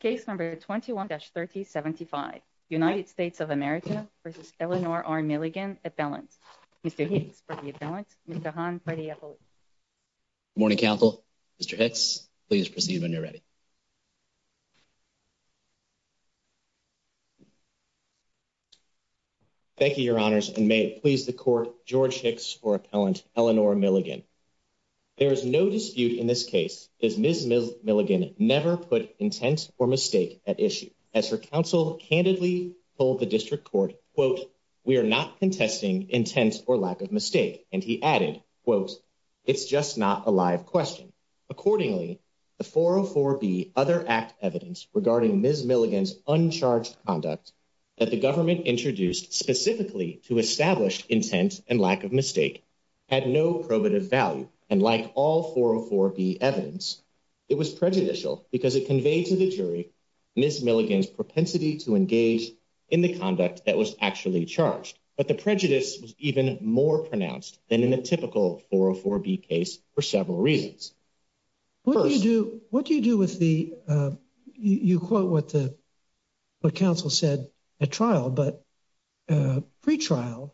Case number 21-3075. United States of America v. Eleanor R. Milligan, Appellant. Mr. Hicks for the Appellant. Mr. Han for the Appellant. Good morning, Counsel. Mr. Hicks, please proceed when you're ready. Thank you, Your Honors, and may it please the Court, George Hicks for Appellant Eleanor Milligan. There is no dispute in this case that Ms. Milligan never put intent or mistake at issue. As her counsel candidly told the District Court, quote, we are not contesting intent or lack of mistake, and he added, quote, it's just not a live question. Accordingly, the 404B other act evidence regarding Ms. Milligan's uncharged conduct that the government introduced specifically to establish intent and lack of mistake had no probative value. And like all 404B evidence, it was prejudicial because it conveyed to the jury Ms. Milligan's propensity to engage in the conduct that was actually charged. But the prejudice was even more pronounced than in a typical 404B case for several reasons. What do you do with the, you quote what the counsel said at trial, but pre-trial,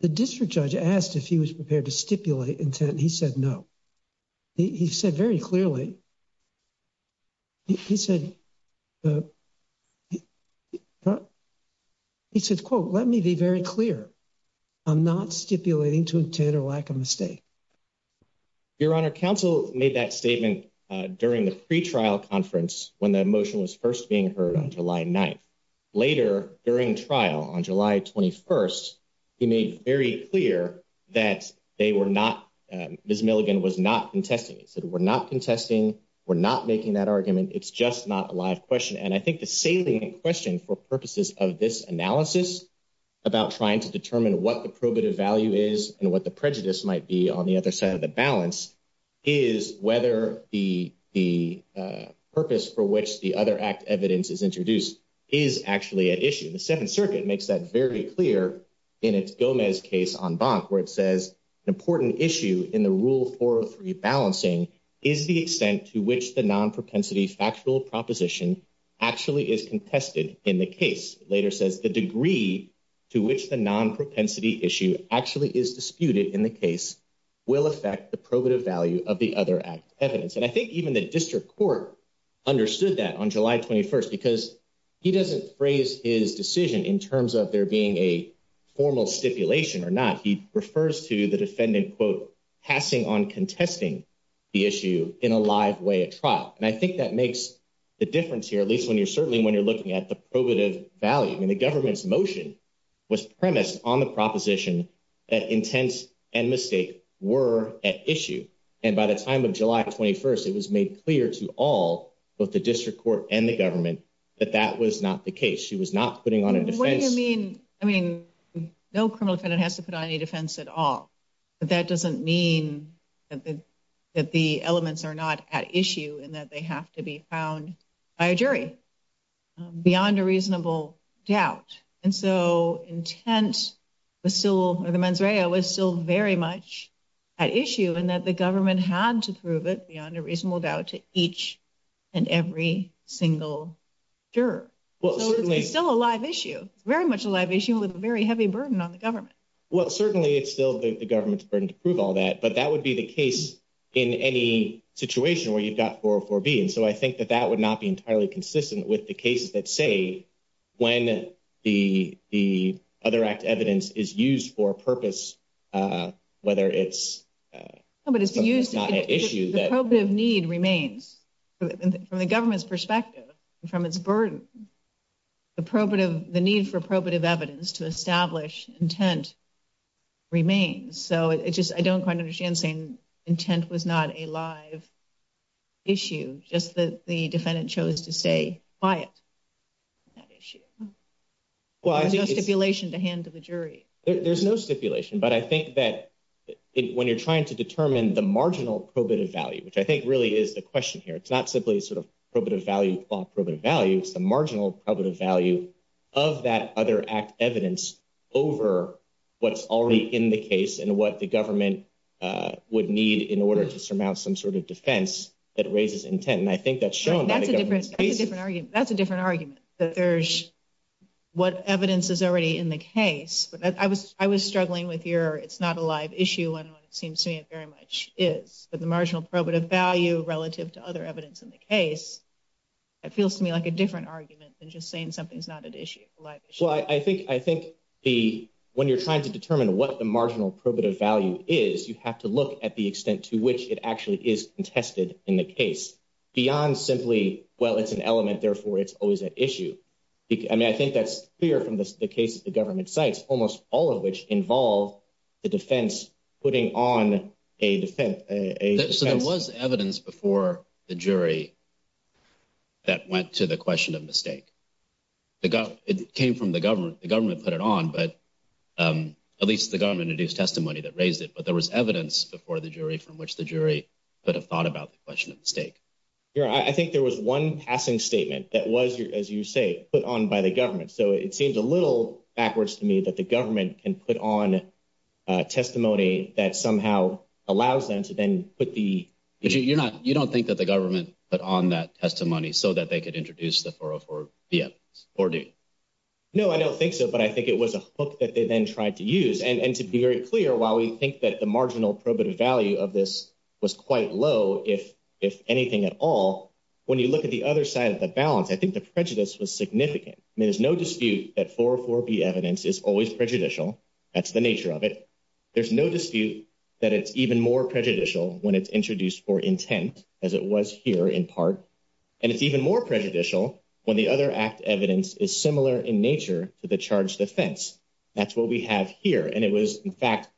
the district judge asked if he was prepared to stipulate intent, and he said no. He said very clearly, he said, he said, quote, let me be very clear. I'm not stipulating to intent or lack of mistake. Your Honor, counsel made that statement during the pre-trial conference when the motion was first being heard on July 9th. Later during trial on July 21st, he made very clear that they were not, Ms. Milligan was not contesting. He said we're not contesting, we're not making that argument, it's just not a live question. And I think the salient question for purposes of this analysis about trying to determine what the probative value is and what the prejudice might be on the other side of the balance is whether the purpose for which the other act evidence is introduced is actually at issue. The Seventh Circuit makes that very clear in its Gomez case on Bonk where it says an important issue in the Rule 403 balancing is the extent to which the non-propensity factual proposition actually is contested in the case. It later says the degree to which the non-propensity issue actually is disputed in the case will affect the probative value of the other act evidence. And I think even the district court understood that on July 21st because he doesn't phrase his decision in terms of there being a formal stipulation or not. He refers to the defendant, quote, passing on contesting the issue in a live way at trial. And I think that makes the difference here, at least when you're certainly when you're looking at the probative value. I mean, the government's motion was premised on the proposition that intent and mistake were at issue. And by the time of July 21st, it was made clear to all both the district court and the government that that was not the case. She was not putting on a defense. I mean, no criminal defendant has to put on a defense at all. But that doesn't mean that the elements are not at issue and that they have to be found by a jury beyond a reasonable doubt. And so intent was still the mens rea was still very much at issue and that the government had to prove it beyond a reasonable doubt to each and every single juror. Well, certainly it's still a live issue, very much a live issue with a very heavy burden on the government. Well, certainly it's still the government's burden to prove all that. But that would be the case in any situation where you've got four or four B. And so I think that that would not be entirely consistent with the cases that say when the the other act evidence is used for purpose, whether it's. But it's not an issue that probative need remains from the government's perspective and from its burden. The probative the need for probative evidence to establish intent remains. So it's just I don't quite understand saying intent was not a live issue, just that the defendant chose to stay quiet. That issue was a stipulation to hand to the jury. There's no stipulation. But I think that when you're trying to determine the marginal probative value, which I think really is the question here, it's not simply sort of probative value, probative value. It's the marginal value of that other act evidence over what's already in the case and what the government would need in order to surmount some sort of defense that raises intent. That's a different argument. That's a different argument that there's what evidence is already in the case. But I was I was struggling with your it's not a live issue. And it seems to me it very much is the marginal probative value relative to other evidence in the case. It feels to me like a different argument than just saying something's not an issue. Well, I think I think the when you're trying to determine what the marginal probative value is, you have to look at the extent to which it actually is tested in the case beyond simply. Well, it's an element. Therefore, it's always an issue. I mean, I think that's clear from the case of the government sites, almost all of which involve the defense putting on a defense. So there was evidence before the jury. That went to the question of mistake. It came from the government, the government put it on, but at least the government induced testimony that raised it. But there was evidence before the jury from which the jury could have thought about the question of mistake. I think there was one passing statement that was, as you say, put on by the government. So it seems a little backwards to me that the government can put on testimony that somehow allows them to then put the. But you're not you don't think that the government put on that testimony so that they could introduce the four or four or do. No, I don't think so. But I think it was a book that they then tried to use. And to be very clear, while we think that the marginal probative value of this was quite low, if if anything at all. When you look at the other side of the balance, I think the prejudice was significant. I mean, there's no dispute that for for the evidence is always prejudicial. That's the nature of it. There's no dispute that it's even more prejudicial when it's introduced for intent, as it was here in part. And it's even more prejudicial when the other act evidence is similar in nature to the charge defense. That's what we have here. And it was, in fact,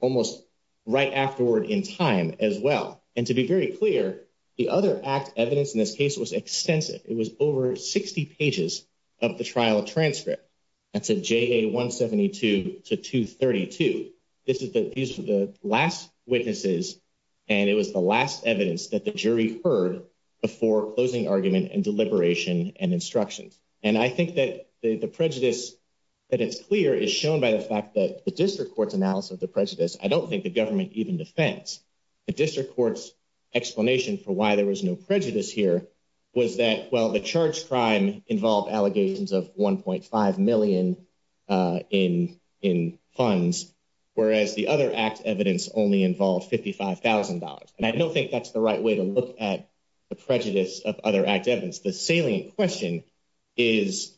almost right afterward in time as well. And to be very clear, the other act evidence in this case was extensive. It was over 60 pages of the trial transcript. That's a J.A. 172 to 232. This is that these are the last witnesses. And it was the last evidence that the jury heard before closing argument and deliberation and instructions. And I think that the prejudice that it's clear is shown by the fact that the district court's analysis of the prejudice. I don't think the government even defense the district court's explanation for why there was no prejudice here. Was that, well, the charge crime involved allegations of one point five million in in funds, whereas the other act evidence only involved fifty five thousand dollars. And I don't think that's the right way to look at the prejudice of other act evidence. The salient question is,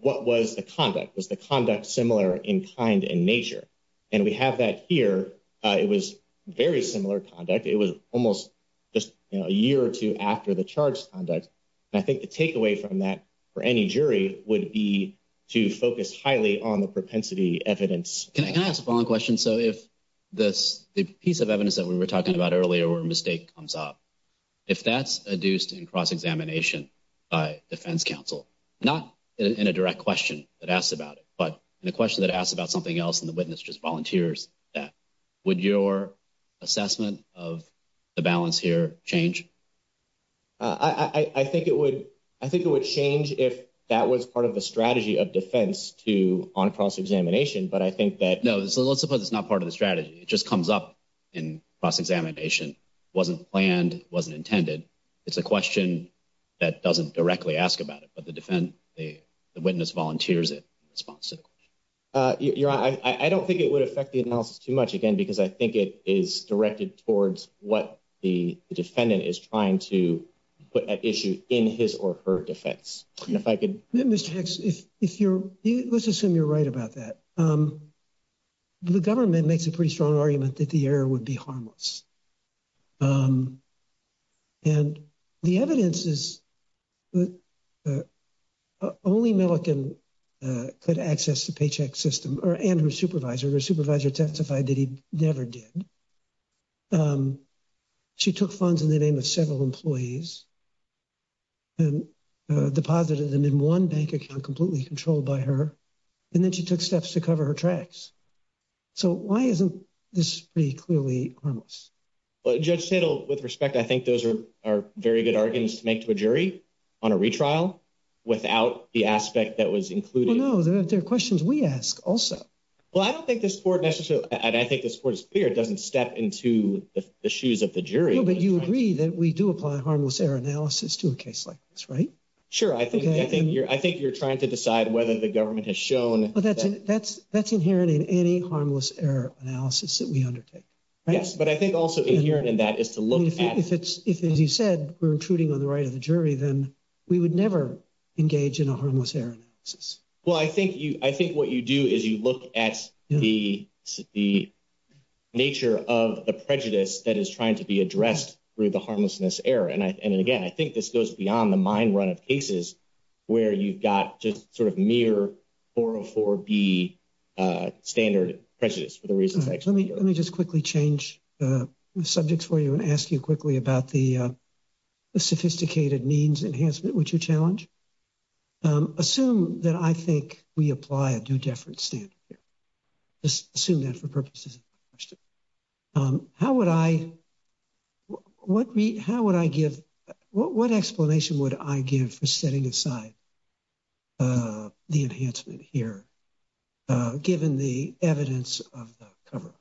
what was the conduct? Was the conduct similar in kind and nature? And we have that here. It was very similar conduct. It was almost just a year or two after the charge conduct. And I think the takeaway from that for any jury would be to focus highly on the propensity evidence. Can I ask a following question? So if this piece of evidence that we were talking about earlier or a mistake comes up, if that's adduced in cross examination by defense counsel, not in a direct question that asks about it, but the question that asks about something else and the witness just volunteers that would your assessment of the balance here change? I think it would. I think it would change if that was part of the strategy of defense to on cross examination. But I think that, no, let's suppose it's not part of the strategy. It just comes up in cross examination. Wasn't planned, wasn't intended. It's a question that doesn't directly ask about it. But the defense, the witness volunteers it. You're right. I don't think it would affect the analysis too much again, because I think it is directed towards what the defendant is trying to put at issue in his or her defense. And if I could, Mr. Hicks, if you're let's assume you're right about that. The government makes a pretty strong argument that the error would be harmless. And the evidence is that only Milliken could access the paycheck system and her supervisor. Her supervisor testified that he never did. She took funds in the name of several employees and deposited them in one bank account completely controlled by her. And then she took steps to cover her tracks. So why isn't this pretty clearly harmless? Well, Judge Tittle, with respect, I think those are are very good arguments to make to a jury on a retrial without the aspect that was included. No, there are questions we ask also. Well, I don't think this court necessarily. And I think this court is clear. It doesn't step into the shoes of the jury. But you agree that we do apply harmless error analysis to a case like this, right? Sure. I think I think you're I think you're trying to decide whether the government has shown. But that's that's that's inherent in any harmless error analysis that we undertake. Yes. But I think also inherent in that is to look at if it's if, as you said, we're intruding on the right of the jury, then we would never engage in a harmless error. Well, I think you I think what you do is you look at the the nature of the prejudice that is trying to be addressed through the harmlessness error. And I and again, I think this goes beyond the mind run of cases where you've got just sort of mere or for the standard prejudice for the reasons. Let me let me just quickly change the subjects for you and ask you quickly about the sophisticated means enhancement, which you challenge. Assume that I think we apply a different standard. Assume that for purposes. How would I what we how would I give what explanation would I give for setting aside the enhancement here, given the evidence of the cover?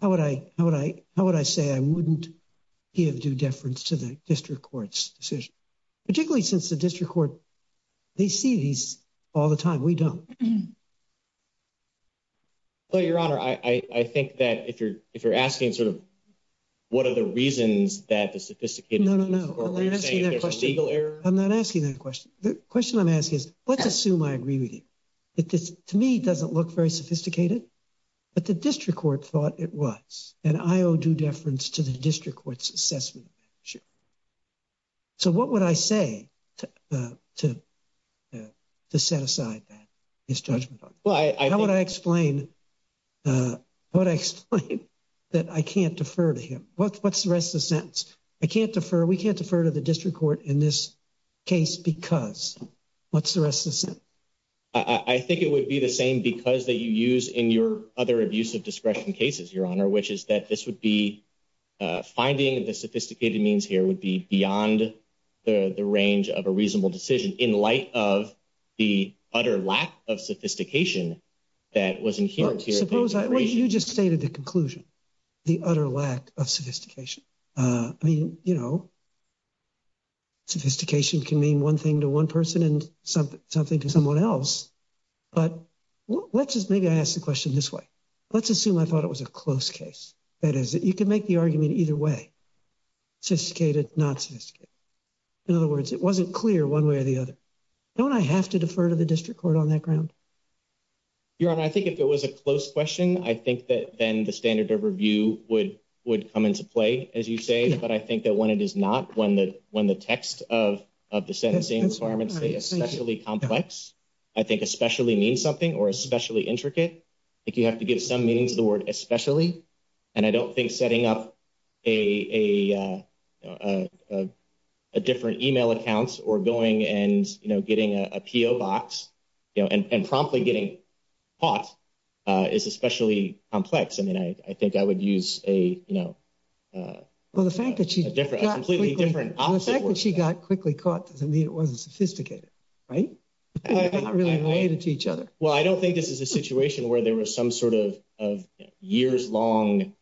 How would I how would I how would I say I wouldn't give due deference to the district court's decision, particularly since the district court, they see these all the time. We don't. But your honor, I think that if you're if you're asking sort of what are the reasons that the sophisticated. No, no, no. I'm not asking that question. The question I'm asking is, let's assume I agree with you. To me, it doesn't look very sophisticated, but the district court thought it was and I owe due deference to the district court's assessment. Sure. So what would I say to to to set aside his judgment? Well, I want to explain what I explain that I can't defer to him. What's what's the rest of the sentence? I can't defer. We can't defer to the district court in this case because what's the rest of the sentence? I think it would be the same because that you use in your other abuse of discretion cases, your honor, which is that this would be finding the sophisticated means here would be beyond the range of a reasonable decision in light of the utter lack of sophistication. That wasn't here. Suppose you just stated the conclusion, the utter lack of sophistication. I mean, you know. Sophistication can mean one thing to one person and something to someone else. But let's just maybe I ask the question this way. Let's assume I thought it was a close case. That is, you can make the argument either way, sophisticated, not sophisticated. In other words, it wasn't clear one way or the other. Don't I have to defer to the district court on that ground? Your honor, I think if it was a close question, I think that then the standard of review would would come into play, as you say. But I think that when it is not, when the when the text of of the sentencing requirements, especially complex, I think especially mean something or especially intricate. I think you have to give some meaning to the word especially. And I don't think setting up a different email accounts or going and, you know, getting a P.O. box and promptly getting caught is especially complex. I mean, I think I would use a, you know, well, the fact that she's different, completely different. The fact that she got quickly caught doesn't mean it wasn't sophisticated. Right. Not really related to each other. Well, I don't think this is a situation where there was some sort of of years long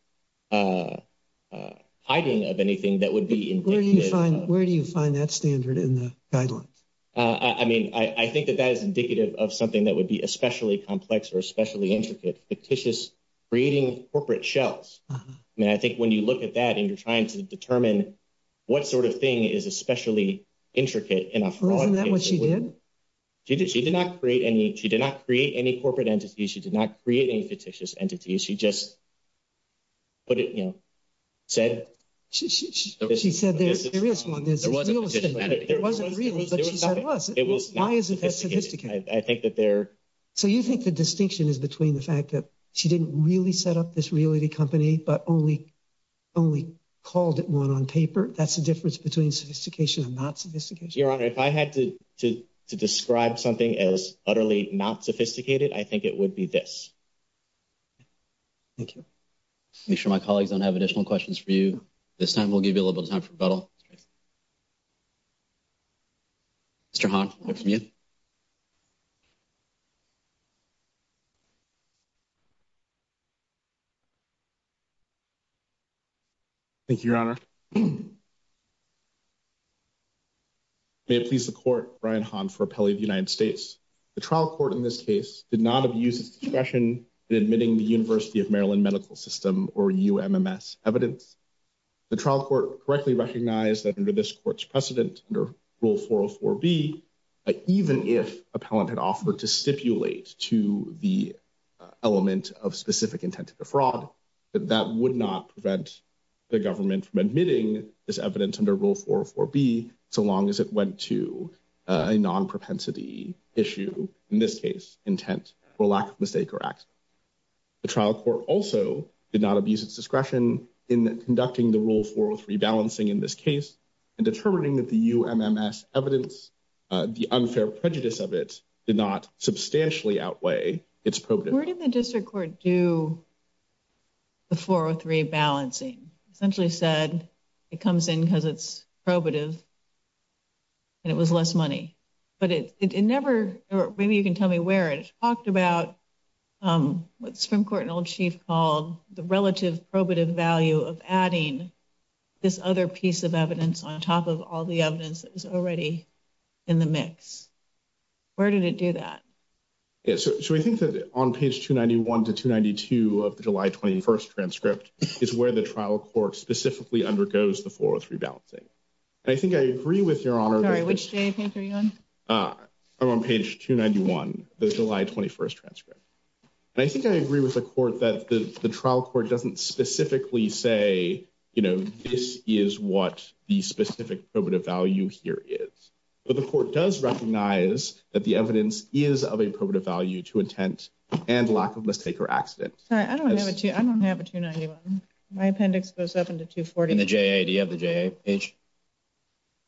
hiding of anything that would be. Where do you find where do you find that standard in the guidelines? I mean, I think that that is indicative of something that would be especially complex or especially intricate, fictitious, creating corporate shells. I mean, I think when you look at that and you're trying to determine what sort of thing is especially intricate enough. Wasn't that what she did? She did. She did not create any. She did not create any corporate entities. She did not create any fictitious entities. She just. But, you know, said she said there's a serious one. It wasn't real, but it was. Why is it? I think that there. So you think the distinction is between the fact that she didn't really set up this really company, but only only called it one on paper. That's the difference between sophistication and not sophistication. Your honor. If I had to describe something as utterly not sophisticated, I think it would be this. Thank you. Make sure my colleagues don't have additional questions for you this time. We'll give you a little time for battle. Mr. Thank you, your honor. May it please the court. Brian Han for appellee of the United States. The trial court in this case did not abuse his discretion in admitting the University of Maryland Medical System or UMMS evidence. The trial court correctly recognized that under this court's precedent under rule 404B, even if appellant had offered to stipulate to the element of specific intent to defraud. That would not prevent the government from admitting this evidence under rule 404B. So long as it went to a non propensity issue, in this case, intent for lack of mistake or accident. The trial court also did not abuse its discretion in conducting the rule 403 balancing in this case and determining that the UMMS evidence, the unfair prejudice of it did not substantially outweigh. Where did the district court do the 403 balancing essentially said it comes in because it's probative. And it was less money, but it never maybe you can tell me where it talked about what's from court and old chief called the relative probative value of adding this other piece of evidence on top of all the evidence is already in the mix. Where did it do that? So we think that on page 291 to 292 of the July 21st transcript is where the trial court specifically undergoes the 403 balancing. I think I agree with your honor, which I'm on page 291, the July 21st transcript. I think I agree with the court that the trial court doesn't specifically say, you know, this is what the specific probative value here is. But the court does recognize that the evidence is of a probative value to intent and lack of mistake or accident. I don't have a 2. My appendix goes up into 240 and the J. Do you have the page?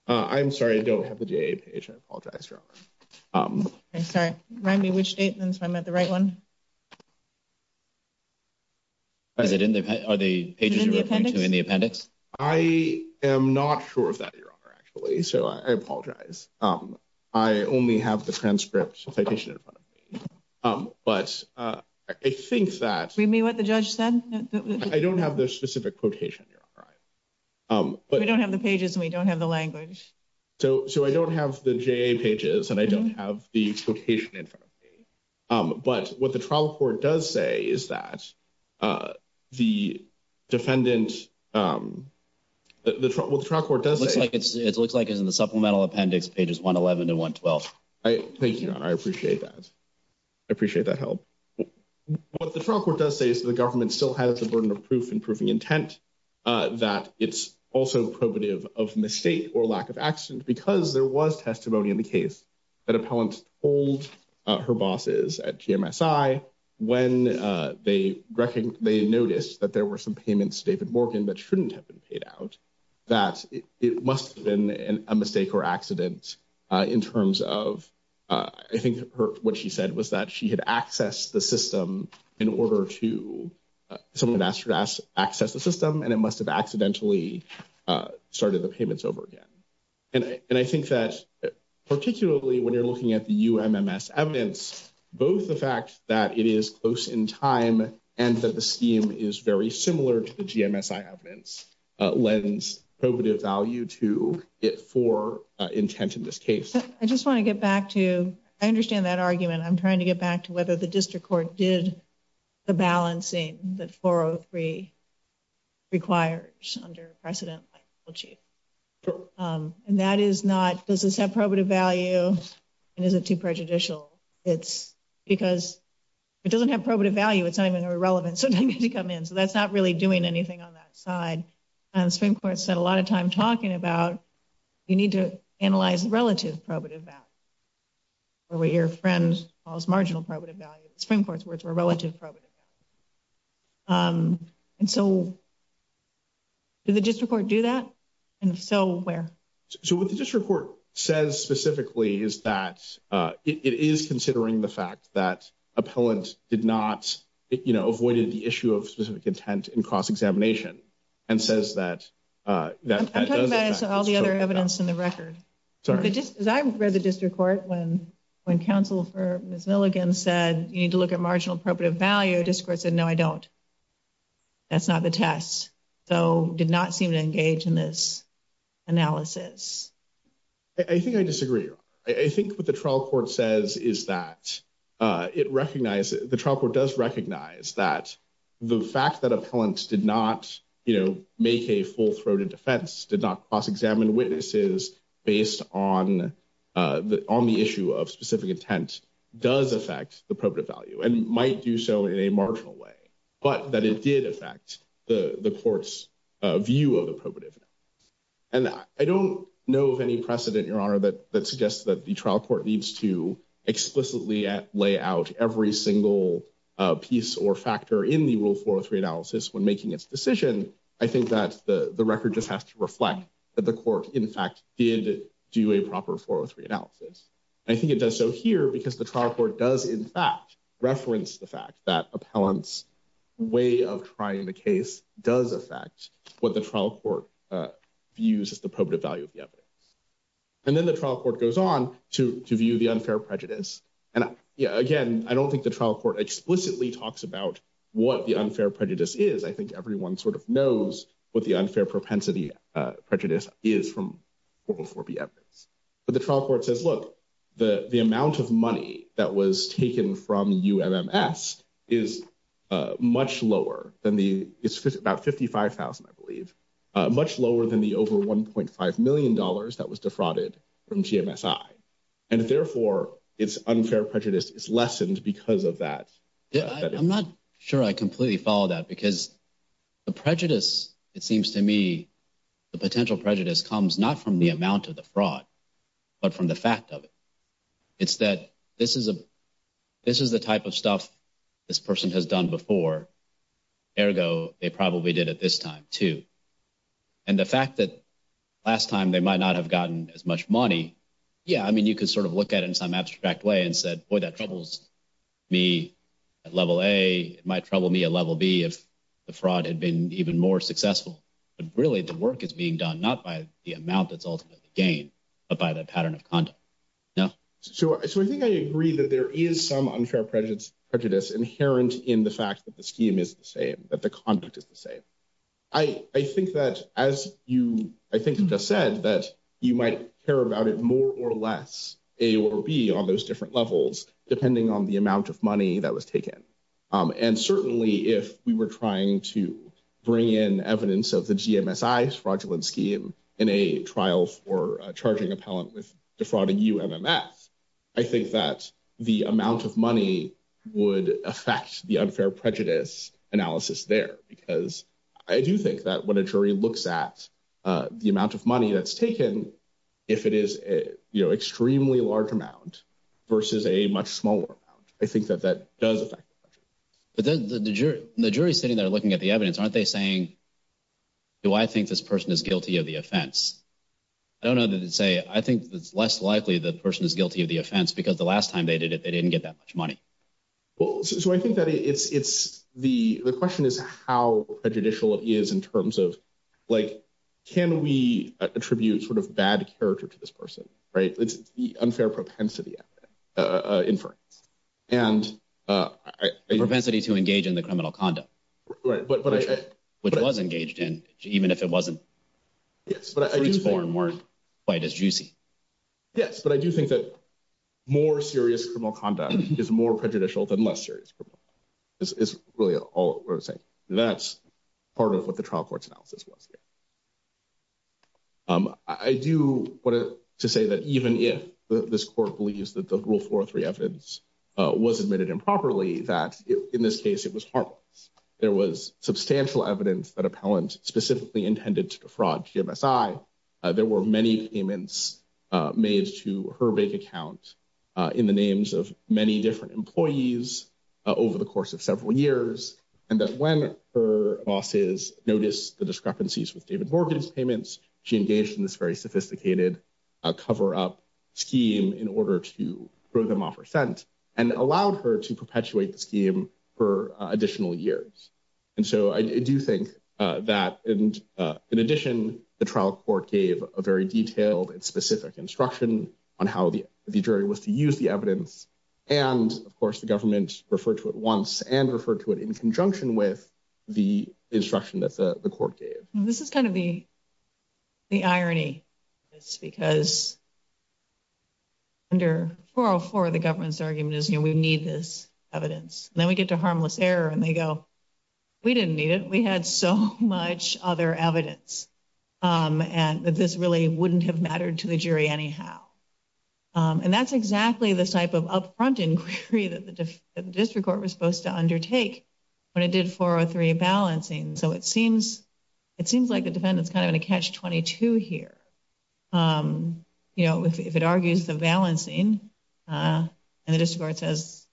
I'm sorry, I don't have the page. I apologize. I'm sorry. Remind me which statements I'm at the right one. Is it in the are the pages in the appendix? I am not sure of that. You're actually so I apologize. I only have the transcript citation in front of me, but I think that read me what the judge said. I don't have the specific quotation. You're right. But we don't have the pages and we don't have the language. So, so I don't have the J pages and I don't have the quotation in front of me. But what the trial court does say is that the defendant, what the trial court does, it looks like it's in the supplemental appendix pages 111 and 112. Thank you. I appreciate that. I appreciate that help. What the trial court does say is that the government still has the burden of proof and proving intent that it's also probative of mistake or lack of accident because there was testimony in the case. That appellant told her bosses at when they, they noticed that there were some payments, David Morgan, that shouldn't have been paid out. That it must have been a mistake or accident in terms of, I think, what she said was that she had access the system in order to some of that stress access the system and it must have accidentally started the payments over again. And I think that particularly when you're looking at the evidence, both the fact that it is close in time and that the scheme is very similar to the evidence lens probative value to it for intent in this case. I just want to get back to I understand that argument. I'm trying to get back to whether the district court did. The balancing that 403 requires under precedent chief. And that is not does this have probative value. And is it too prejudicial. It's because it doesn't have probative value it's not even irrelevant to come in so that's not really doing anything on that side. And the Supreme Court said a lot of time talking about, you need to analyze the relative probative value. Or what your friend calls marginal probative value, the Supreme Court's words were relative probative value. And so, did the district court do that? And if so, where? So, what the district court says specifically is that it is considering the fact that appellant did not, you know, avoided the issue of specific intent in cross examination. And says that that all the other evidence in the record. So, I read the district court when when counsel for Milligan said, you need to look at marginal probative value discourse and no, I don't. That's not the test, so did not seem to engage in this analysis. I think I disagree. I think what the trial court says is that it recognizes the trial court does recognize that the fact that appellants did not, you know, make a full throated defense did not cross examine witnesses. Based on the on the issue of specific intent does affect the probative value and might do so in a marginal way, but that it did affect the court's view of the probative. And I don't know of any precedent your honor that that suggests that the trial court needs to explicitly at layout every single piece or factor in the rule for three analysis when making its decision. I think that the record just has to reflect that the court, in fact, did do a proper four or three analysis. I think it does so here because the trial court does, in fact, reference the fact that appellants way of trying the case does affect what the trial court views as the probative value of the evidence. And then the trial court goes on to view the unfair prejudice. And again, I don't think the trial court explicitly talks about what the unfair prejudice is. I think everyone sort of knows what the unfair propensity prejudice is from. But the trial court says, look, the, the amount of money that was taken from is much lower than the, it's about fifty five thousand, I believe, much lower than the over one point five million dollars that was defrauded from. And therefore, it's unfair prejudice is lessened because of that. I'm not sure I completely follow that because the prejudice, it seems to me, the potential prejudice comes not from the amount of the fraud, but from the fact of it. It's that this is a this is the type of stuff this person has done before. Ergo, they probably did at this time, too. And the fact that last time they might not have gotten as much money. Yeah, I mean, you could sort of look at it in some abstract way and said, boy, that troubles me at level a might trouble me a level B if the fraud had been even more successful. But really, the work is being done, not by the amount that's ultimately gain, but by the pattern of conduct. So, so I think I agree that there is some unfair prejudice prejudice inherent in the fact that the scheme is the same that the conduct is the same. I think that as you, I think you just said that you might care about it more or less a or B on those different levels, depending on the amount of money that was taken. And certainly, if we were trying to bring in evidence of the fraudulent scheme in a trial for charging appellant with defrauding, I think that the amount of money would affect the unfair prejudice analysis there, because I do think that when a jury looks at the amount of money that's taken. If it is extremely large amount versus a much smaller amount, I think that that does affect. But then the jury, the jury sitting there looking at the evidence, aren't they saying. Do I think this person is guilty of the offense? I don't know that it's a I think it's less likely the person is guilty of the offense because the last time they did it, they didn't get that much money. Well, so I think that it's it's the the question is how a judicial is in terms of, like, can we attribute sort of bad character to this person? Right. It's the unfair propensity inference and propensity to engage in the criminal conduct. Right. But which was engaged in, even if it wasn't. Yes, but I was born weren't quite as juicy. Yes, but I do think that more serious criminal conduct is more prejudicial than less serious. It's really all that's part of what the trial court's analysis was. I do want to say that even if this court believes that the rule for three evidence was admitted improperly, that in this case, it was harmless. There was substantial evidence that appellant specifically intended to defraud GMSI. There were many payments made to her bank account in the names of many different employees over the course of several years. And that when her bosses notice the discrepancies with David Morgan's payments, she engaged in this very sophisticated cover up scheme in order to throw them off her scent. And allowed her to perpetuate the scheme for additional years. And so I do think that in addition, the trial court gave a very detailed and specific instruction on how the jury was to use the evidence. And, of course, the government referred to it once and referred to it in conjunction with the instruction that the court gave. This is kind of the irony, because under 404, the government's argument is, you know, we need this evidence. Then we get to harmless error and they go, we didn't need it. We had so much other evidence and this really wouldn't have mattered to the jury anyhow. And that's exactly the type of upfront inquiry that the district court was supposed to undertake when it did 403 balancing. So it seems it seems like the defendant's kind of in a catch 22 here. You know, if it argues the balancing and the district court says,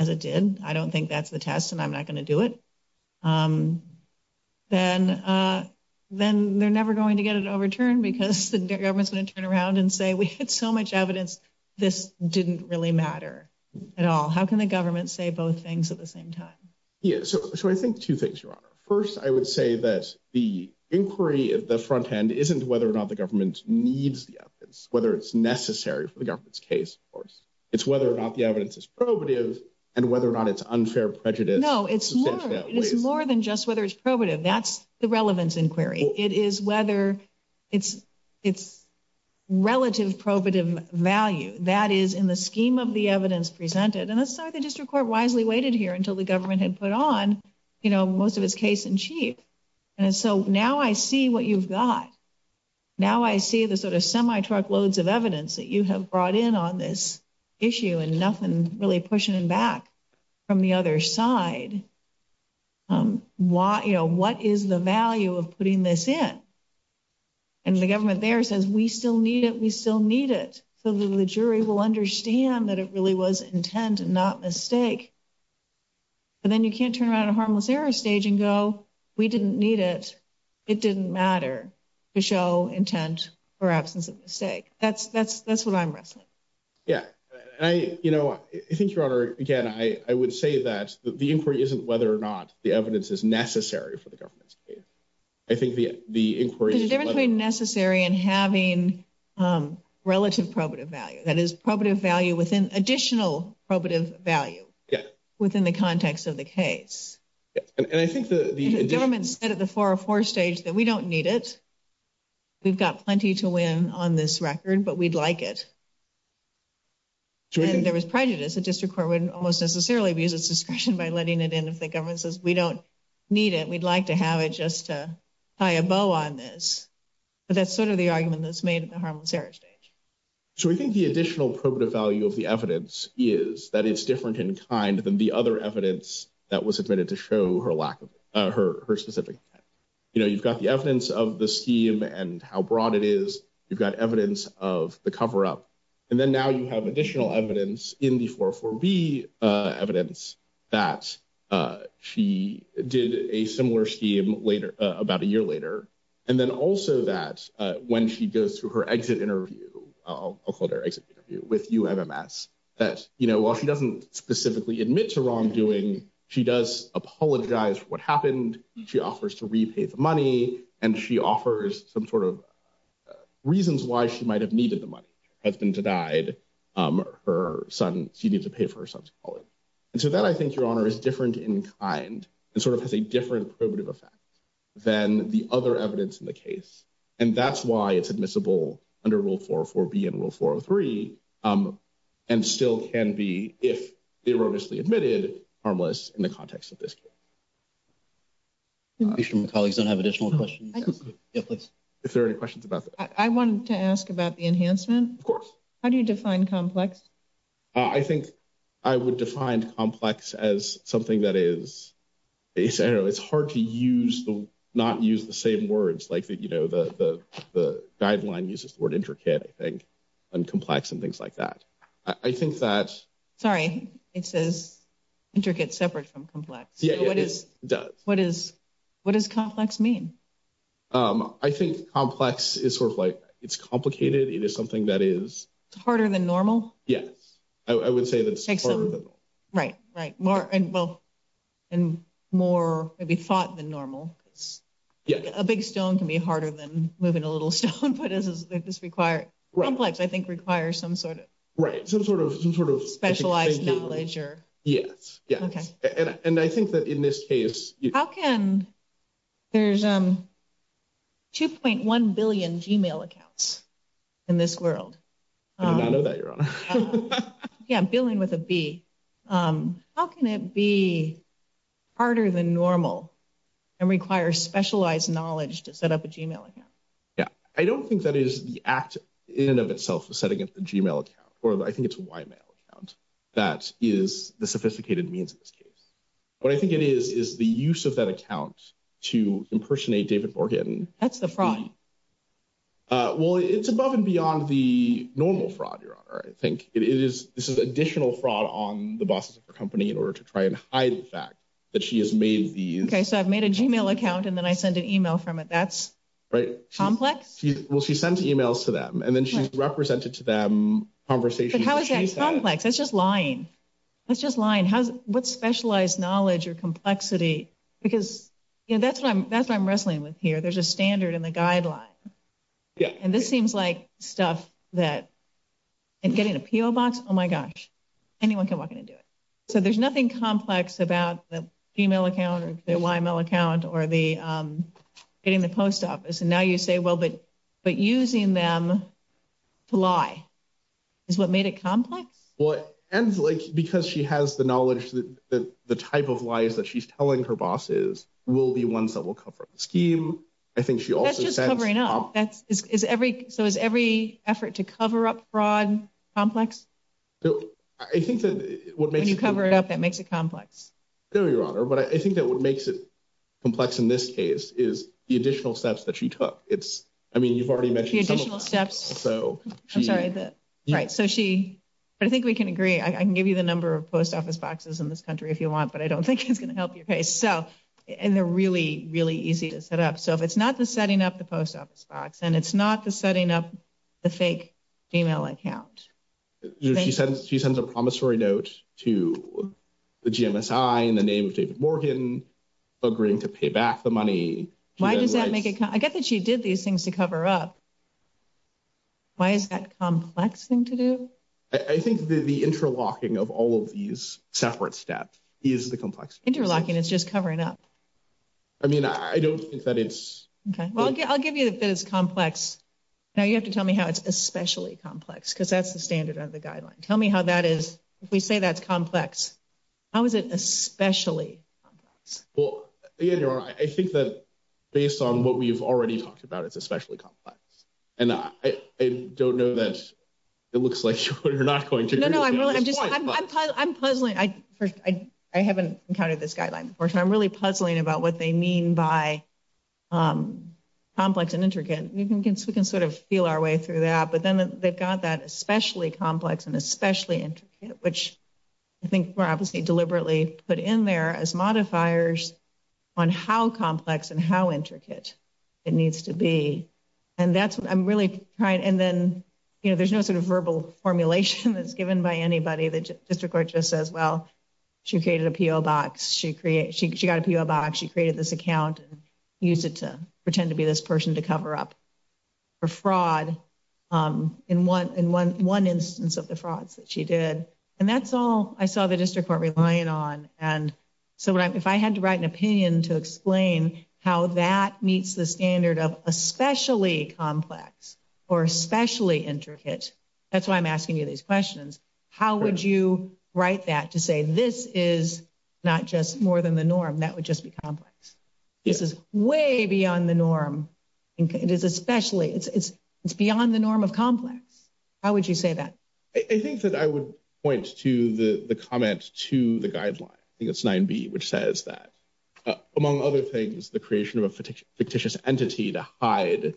as it did, I don't think that's the test and I'm not going to do it. Then then they're never going to get it overturned because the government's going to turn around and say, we had so much evidence. This didn't really matter at all. How can the government say both things at the same time? So I think two things, your honor. First, I would say that the inquiry of the front end isn't whether or not the government needs the evidence, whether it's necessary for the government's case. Of course, it's whether or not the evidence is probative and whether or not it's unfair prejudice. No, it's more than just whether it's probative. That's the relevance inquiry. It is whether it's it's relative probative value that is in the scheme of the evidence presented. And that's why the district court wisely waited here until the government had put on, you know, most of his case in chief. And so now I see what you've got. Now, I see the sort of semi truckloads of evidence that you have brought in on this issue and nothing really pushing back from the other side. Why, you know, what is the value of putting this in? And the government there says we still need it. We still need it. So the jury will understand that it really was intent and not mistake. But then you can't turn around a harmless error stage and go, we didn't need it. It didn't matter to show intent or absence of mistake. That's that's that's what I'm wrestling. Yeah, I, you know, I think, your honor, again, I would say that the inquiry isn't whether or not the evidence is necessary for the government. I think the inquiry is necessary and having relative probative value that is probative value within additional probative value within the context of the case. And I think the government said at the 404 stage that we don't need it. We've got plenty to win on this record, but we'd like it. There was prejudice, a district court would almost necessarily abuse its discretion by letting it in if the government says we don't need it. We'd like to have it just to tie a bow on this. But that's sort of the argument that's made at the harmless error stage. So we think the additional probative value of the evidence is that it's different in kind than the other evidence that was admitted to show her lack of her specific. You know, you've got the evidence of the scheme and how broad it is. You've got evidence of the cover up. And then now you have additional evidence in the 404B evidence that she did a similar scheme later about a year later. And then also that when she goes through her exit interview, I'll call it her exit interview with UMMS, that, you know, while she doesn't specifically admit to wrongdoing, she does apologize for what happened. She offers to repay the money, and she offers some sort of reasons why she might have needed the money. Her husband died. Her son, she needs to pay for her son's calling. And so that I think your honor is different in kind and sort of has a different probative effect than the other evidence in the case. And that's why it's admissible under Rule 404B and Rule 403 and still can be, if erroneously admitted, harmless in the context of this case. I'm sure my colleagues don't have additional questions. If there are any questions about that. I wanted to ask about the enhancement. Of course. How do you define complex? I think I would define complex as something that is, you know, it's hard to use, not use the same words like, you know, the guideline uses the word intricate, I think, and complex and things like that. I think that. Sorry, it says intricate separate from complex. Yeah, it does. What is, what does complex mean? I think complex is sort of like, it's complicated. It is something that is. It's harder than normal. Yes. I would say that. Right, right. Well, and more maybe thought than normal. Yeah, a big stone can be harder than moving a little stone, but it does require complex, I think, requires some sort of right. Some sort of some sort of specialized knowledge or. Yes. Okay. And I think that in this case. How can there's 2.1 billion Gmail accounts in this world. Yeah, I'm dealing with a B. How can it be harder than normal and require specialized knowledge to set up a Gmail account. Yeah, I don't think that is the act in and of itself is setting up the Gmail account, or I think it's a white male account. That is the sophisticated means. What I think it is, is the use of that account to impersonate David Morgan. That's the fraud. Well, it's above and beyond the normal fraud. Your honor. I think it is. This is additional fraud on the bosses of the company in order to try and hide the fact that she has made these. Okay, so I've made a Gmail account and then I send an email from it. That's right. Complex. Well, she sends emails to them and then she's represented to them conversation. How is that complex? That's just lying. That's just lying. What specialized knowledge or complexity? Because that's what I'm wrestling with here. There's a standard in the guideline. Yeah. And this seems like stuff that in getting a PO box, oh, my gosh, anyone can walk in and do it. So there's nothing complex about the Gmail account or the YML account or getting the post office. And now you say, well, but using them to lie is what made it complex? And because she has the knowledge that the type of lies that she's telling her bosses will be ones that will cover up the scheme. I think she also. That's just covering up. So is every effort to cover up fraud complex? I think that. When you cover it up, that makes it complex. No, your honor. But I think that what makes it complex in this case is the additional steps that she took. I mean, you've already mentioned. The additional steps. I'm sorry. Right. So she. But I think we can agree. I can give you the number of post office boxes in this country if you want, but I don't think it's going to help you. So and they're really, really easy to set up. So if it's not the setting up the post office box and it's not the setting up the fake email account. She sends a promissory note to the GMSI in the name of David Morgan agreeing to pay back the money. Why does that make it? I get that she did these things to cover up. Why is that complex thing to do? I think the interlocking of all of these separate steps is the complex interlocking. It's just covering up. I mean, I don't think that it's. Okay, well, I'll give you that. It's complex. Now you have to tell me how it's especially complex because that's the standard of the guideline. Tell me how that is. If we say that's complex. How is it especially? Well, I think that based on what we've already talked about, it's especially complex. And I don't know that it looks like you're not going to. I'm puzzling. I haven't encountered this guideline. I'm really puzzling about what they mean by complex and intricate. We can sort of feel our way through that. But then they've got that especially complex and especially intricate, which I think we're obviously deliberately put in there as modifiers on how complex and how intricate it needs to be. And that's what I'm really trying. And then, you know, there's no sort of verbal formulation that's given by anybody. The district court just says, well, she created a P.O. box. She got a P.O. box. She created this account and used it to pretend to be this person to cover up for fraud in one instance of the frauds that she did. And that's all I saw the district court relying on. And so if I had to write an opinion to explain how that meets the standard of especially complex or especially intricate, that's why I'm asking you these questions. How would you write that to say this is not just more than the norm, that would just be complex? This is way beyond the norm. It is especially. It's beyond the norm of complex. How would you say that? I think that I would point to the comment to the guideline. I think it's 9B, which says that, among other things, the creation of a fictitious entity to hide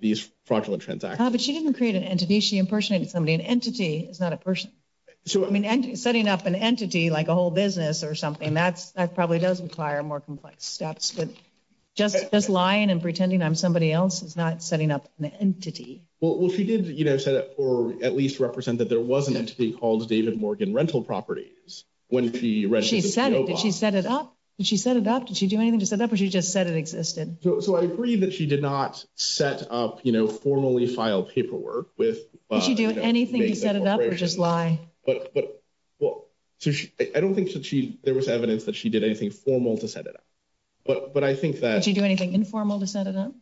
these fraudulent transactions. But she didn't create an entity. She impersonated somebody. An entity is not a person. So, I mean, setting up an entity like a whole business or something, that probably does require more complex steps. But just lying and pretending I'm somebody else is not setting up an entity. Well, she did set up or at least represent that there was an entity called David Morgan rental properties. When she said she set it up, she set it up. Did she do anything to set up? Or she just said it existed. So I agree that she did not set up, you know, formally file paperwork with anything to set it up or just lie. But I don't think there was evidence that she did anything formal to set it up. But I think that you do anything informal to set it up.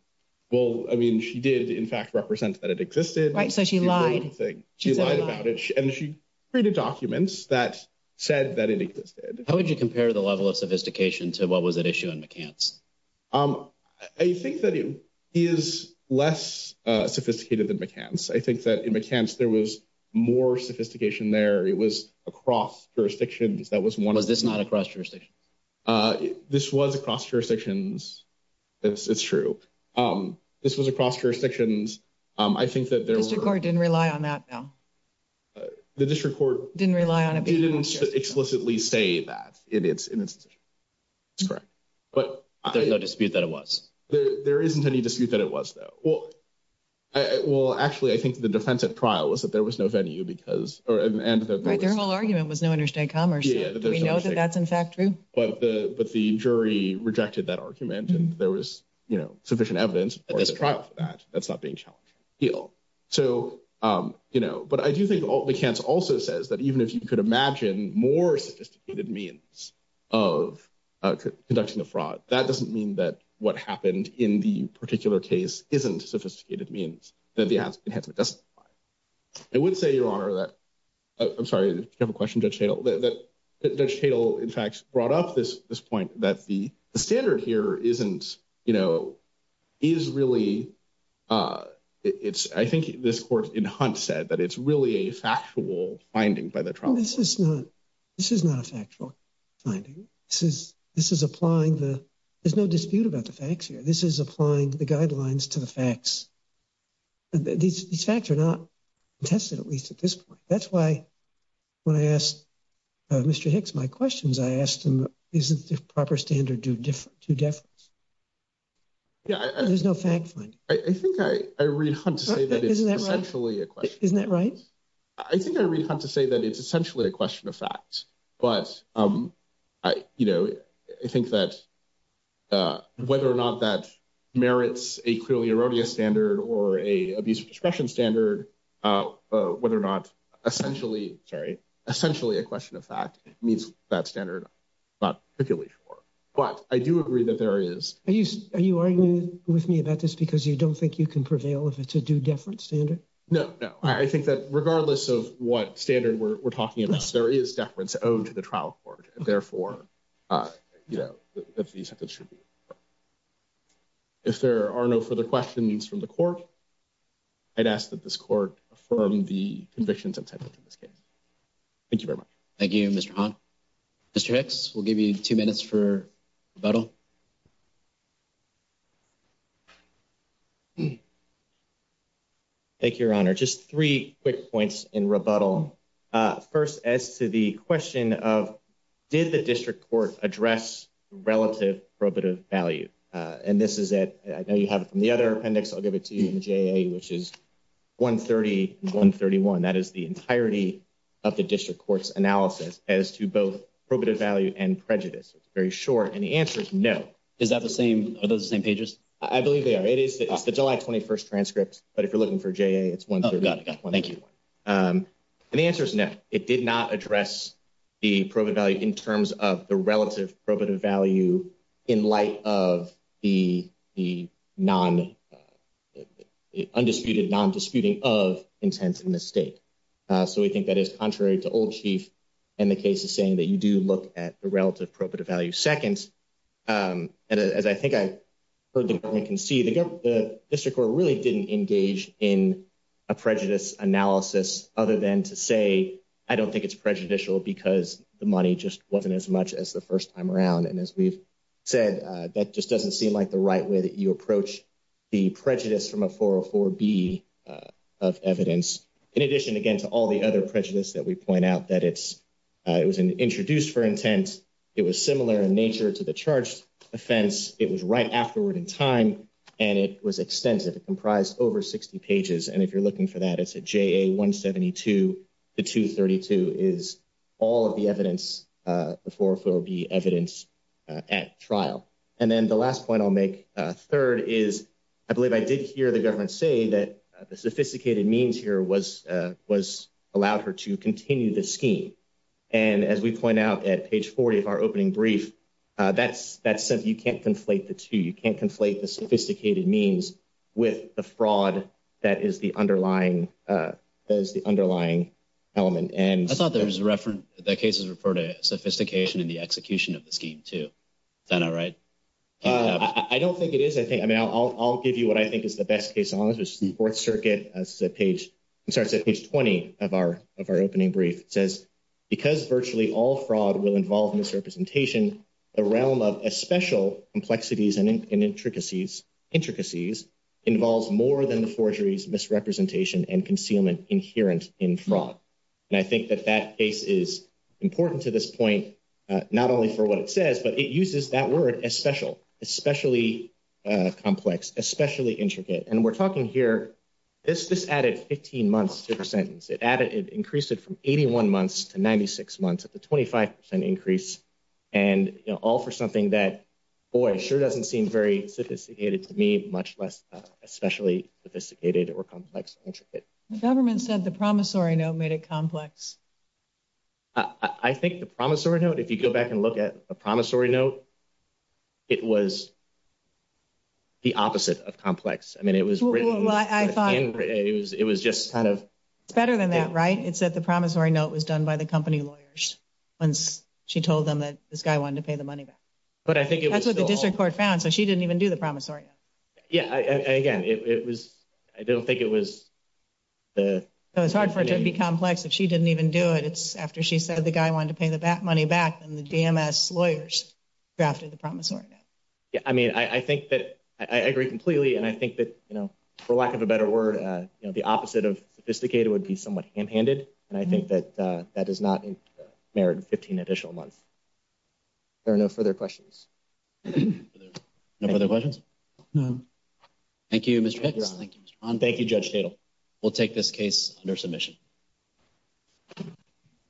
Well, I mean, she did, in fact, represent that it existed. So she lied. She lied about it. And she created documents that said that it existed. How would you compare the level of sophistication to what was at issue in McCants? I think that it is less sophisticated than McCants. I think that in McCants there was more sophistication there. It was across jurisdictions. Was this not across jurisdictions? This was across jurisdictions. It's true. This was across jurisdictions. I think that the district court didn't rely on that. The district court didn't rely on it. They didn't explicitly say that it's correct. But there's no dispute that it was. There isn't any dispute that it was. Well, actually, I think the defense at trial was that there was no venue because their whole argument was no interstate commerce. We know that that's, in fact, true. But the jury rejected that argument. And there was, you know, sufficient evidence at this trial for that. That's not being challenged. So, you know, but I do think McCants also says that even if you could imagine more sophisticated means of conducting a fraud, that doesn't mean that what happened in the particular case isn't sophisticated means that the enhancement doesn't apply. I would say, Your Honor, that I'm sorry. You have a question, Judge Tatel. Judge Tatel, in fact, brought up this point that the standard here isn't, you know, is really it's I think this court in Hunt said that it's really a factual finding by the trial. This is not this is not a factual finding. This is this is applying the there's no dispute about the facts here. This is applying the guidelines to the facts. These facts are not tested, at least at this point. That's why when I asked Mr. Hicks my questions, I asked him, isn't the proper standard due to difference? Yeah, there's no fact. I think I read Hunt to say that it's essentially a question. Isn't that right? I think I read Hunt to say that it's essentially a question of facts. But, you know, I think that whether or not that merits a clearly erroneous standard or a abuse of discretion standard, whether or not essentially sorry, essentially a question of fact means that standard. But I do agree that there is. Are you are you arguing with me about this because you don't think you can prevail if it's a due difference standard? No, no, I think that regardless of what standard we're talking about, there is deference owed to the trial court. Therefore, you know, that these should be. If there are no further questions from the court. I'd ask that this court from the convictions of this case. Thank you very much. Thank you. Mr. We'll give you two minutes for battle. Thank you, your honor. Just three quick points in rebuttal. First, as to the question of did the district court address relative probative value? And this is it. I know you have it from the other appendix. I'll give it to you, which is one thirty one thirty one. That is the entirety of the district court's analysis as to both probative value and prejudice. It's very short. And the answer is no. Is that the same? Are those the same pages? I believe they are. It is the July twenty first transcripts. But if you're looking for J. It's one. Thank you. And the answer is no. It did not address the probative value in terms of the relative probative value in light of the non undisputed non disputing of intense mistake. So we think that is contrary to old chief. And the case is saying that you do look at the relative probative value seconds. And as I think I can see, the district court really didn't engage in a prejudice analysis other than to say, I don't think it's prejudicial because the money just wasn't as much as the first time around. And as we've said, that just doesn't seem like the right way that you approach the prejudice from a four or four B of evidence. In addition, again, to all the other prejudice that we point out, that it's it was introduced for intent. It was similar in nature to the charged offense. It was right afterward in time and it was extensive. It comprised over 60 pages. And if you're looking for that, it's a J.A. one seventy two to two. Thirty two is all of the evidence for four B evidence at trial. And then the last point I'll make third is I believe I did hear the government say that the sophisticated means here was was allowed her to continue the scheme. And as we point out at page 40 of our opening brief, that's that's if you can't conflate the two, you can't conflate the sophisticated means with the fraud that is the underlying as the underlying element. And I thought there was a reference that cases referred to sophistication in the execution of the scheme to that. All right. I don't think it is. I think I mean, I'll give you what I think is the best case. Fourth Circuit as a page starts at page 20 of our of our opening brief says because virtually all fraud will involve misrepresentation, the realm of a special complexities and intricacies intricacies involves more than the forgeries, misrepresentation and concealment inherent in fraud. And I think that that case is important to this point, not only for what it says, but it uses that word as special, especially complex, especially intricate. And we're talking here this this added 15 months to the sentence. It added it increased it from 81 months to 96 months at the 25 percent increase. And all for something that, boy, sure, doesn't seem very sophisticated to me, much less especially sophisticated or complex. The government said the promissory note made it complex. I think the promissory note, if you go back and look at a promissory note. It was. The opposite of complex, I mean, it was I thought it was it was just kind of better than that, right? It's that the promissory note was done by the company lawyers once she told them that this guy wanted to pay the money back. But I think that's what the district court found. So she didn't even do the promissory. Yeah, again, it was I don't think it was the it was hard for it to be complex if she didn't even do it. It's after she said the guy wanted to pay the money back and the DMS lawyers drafted the promissory. Yeah, I mean, I think that I agree completely. And I think that, you know, for lack of a better word, the opposite of sophisticated would be somewhat hand handed. And I think that that does not merit 15 additional months. There are no further questions. No further questions. No. Thank you, Mr. Thank you, Mr. Thank you, Judge Tatum. We'll take this case under submission.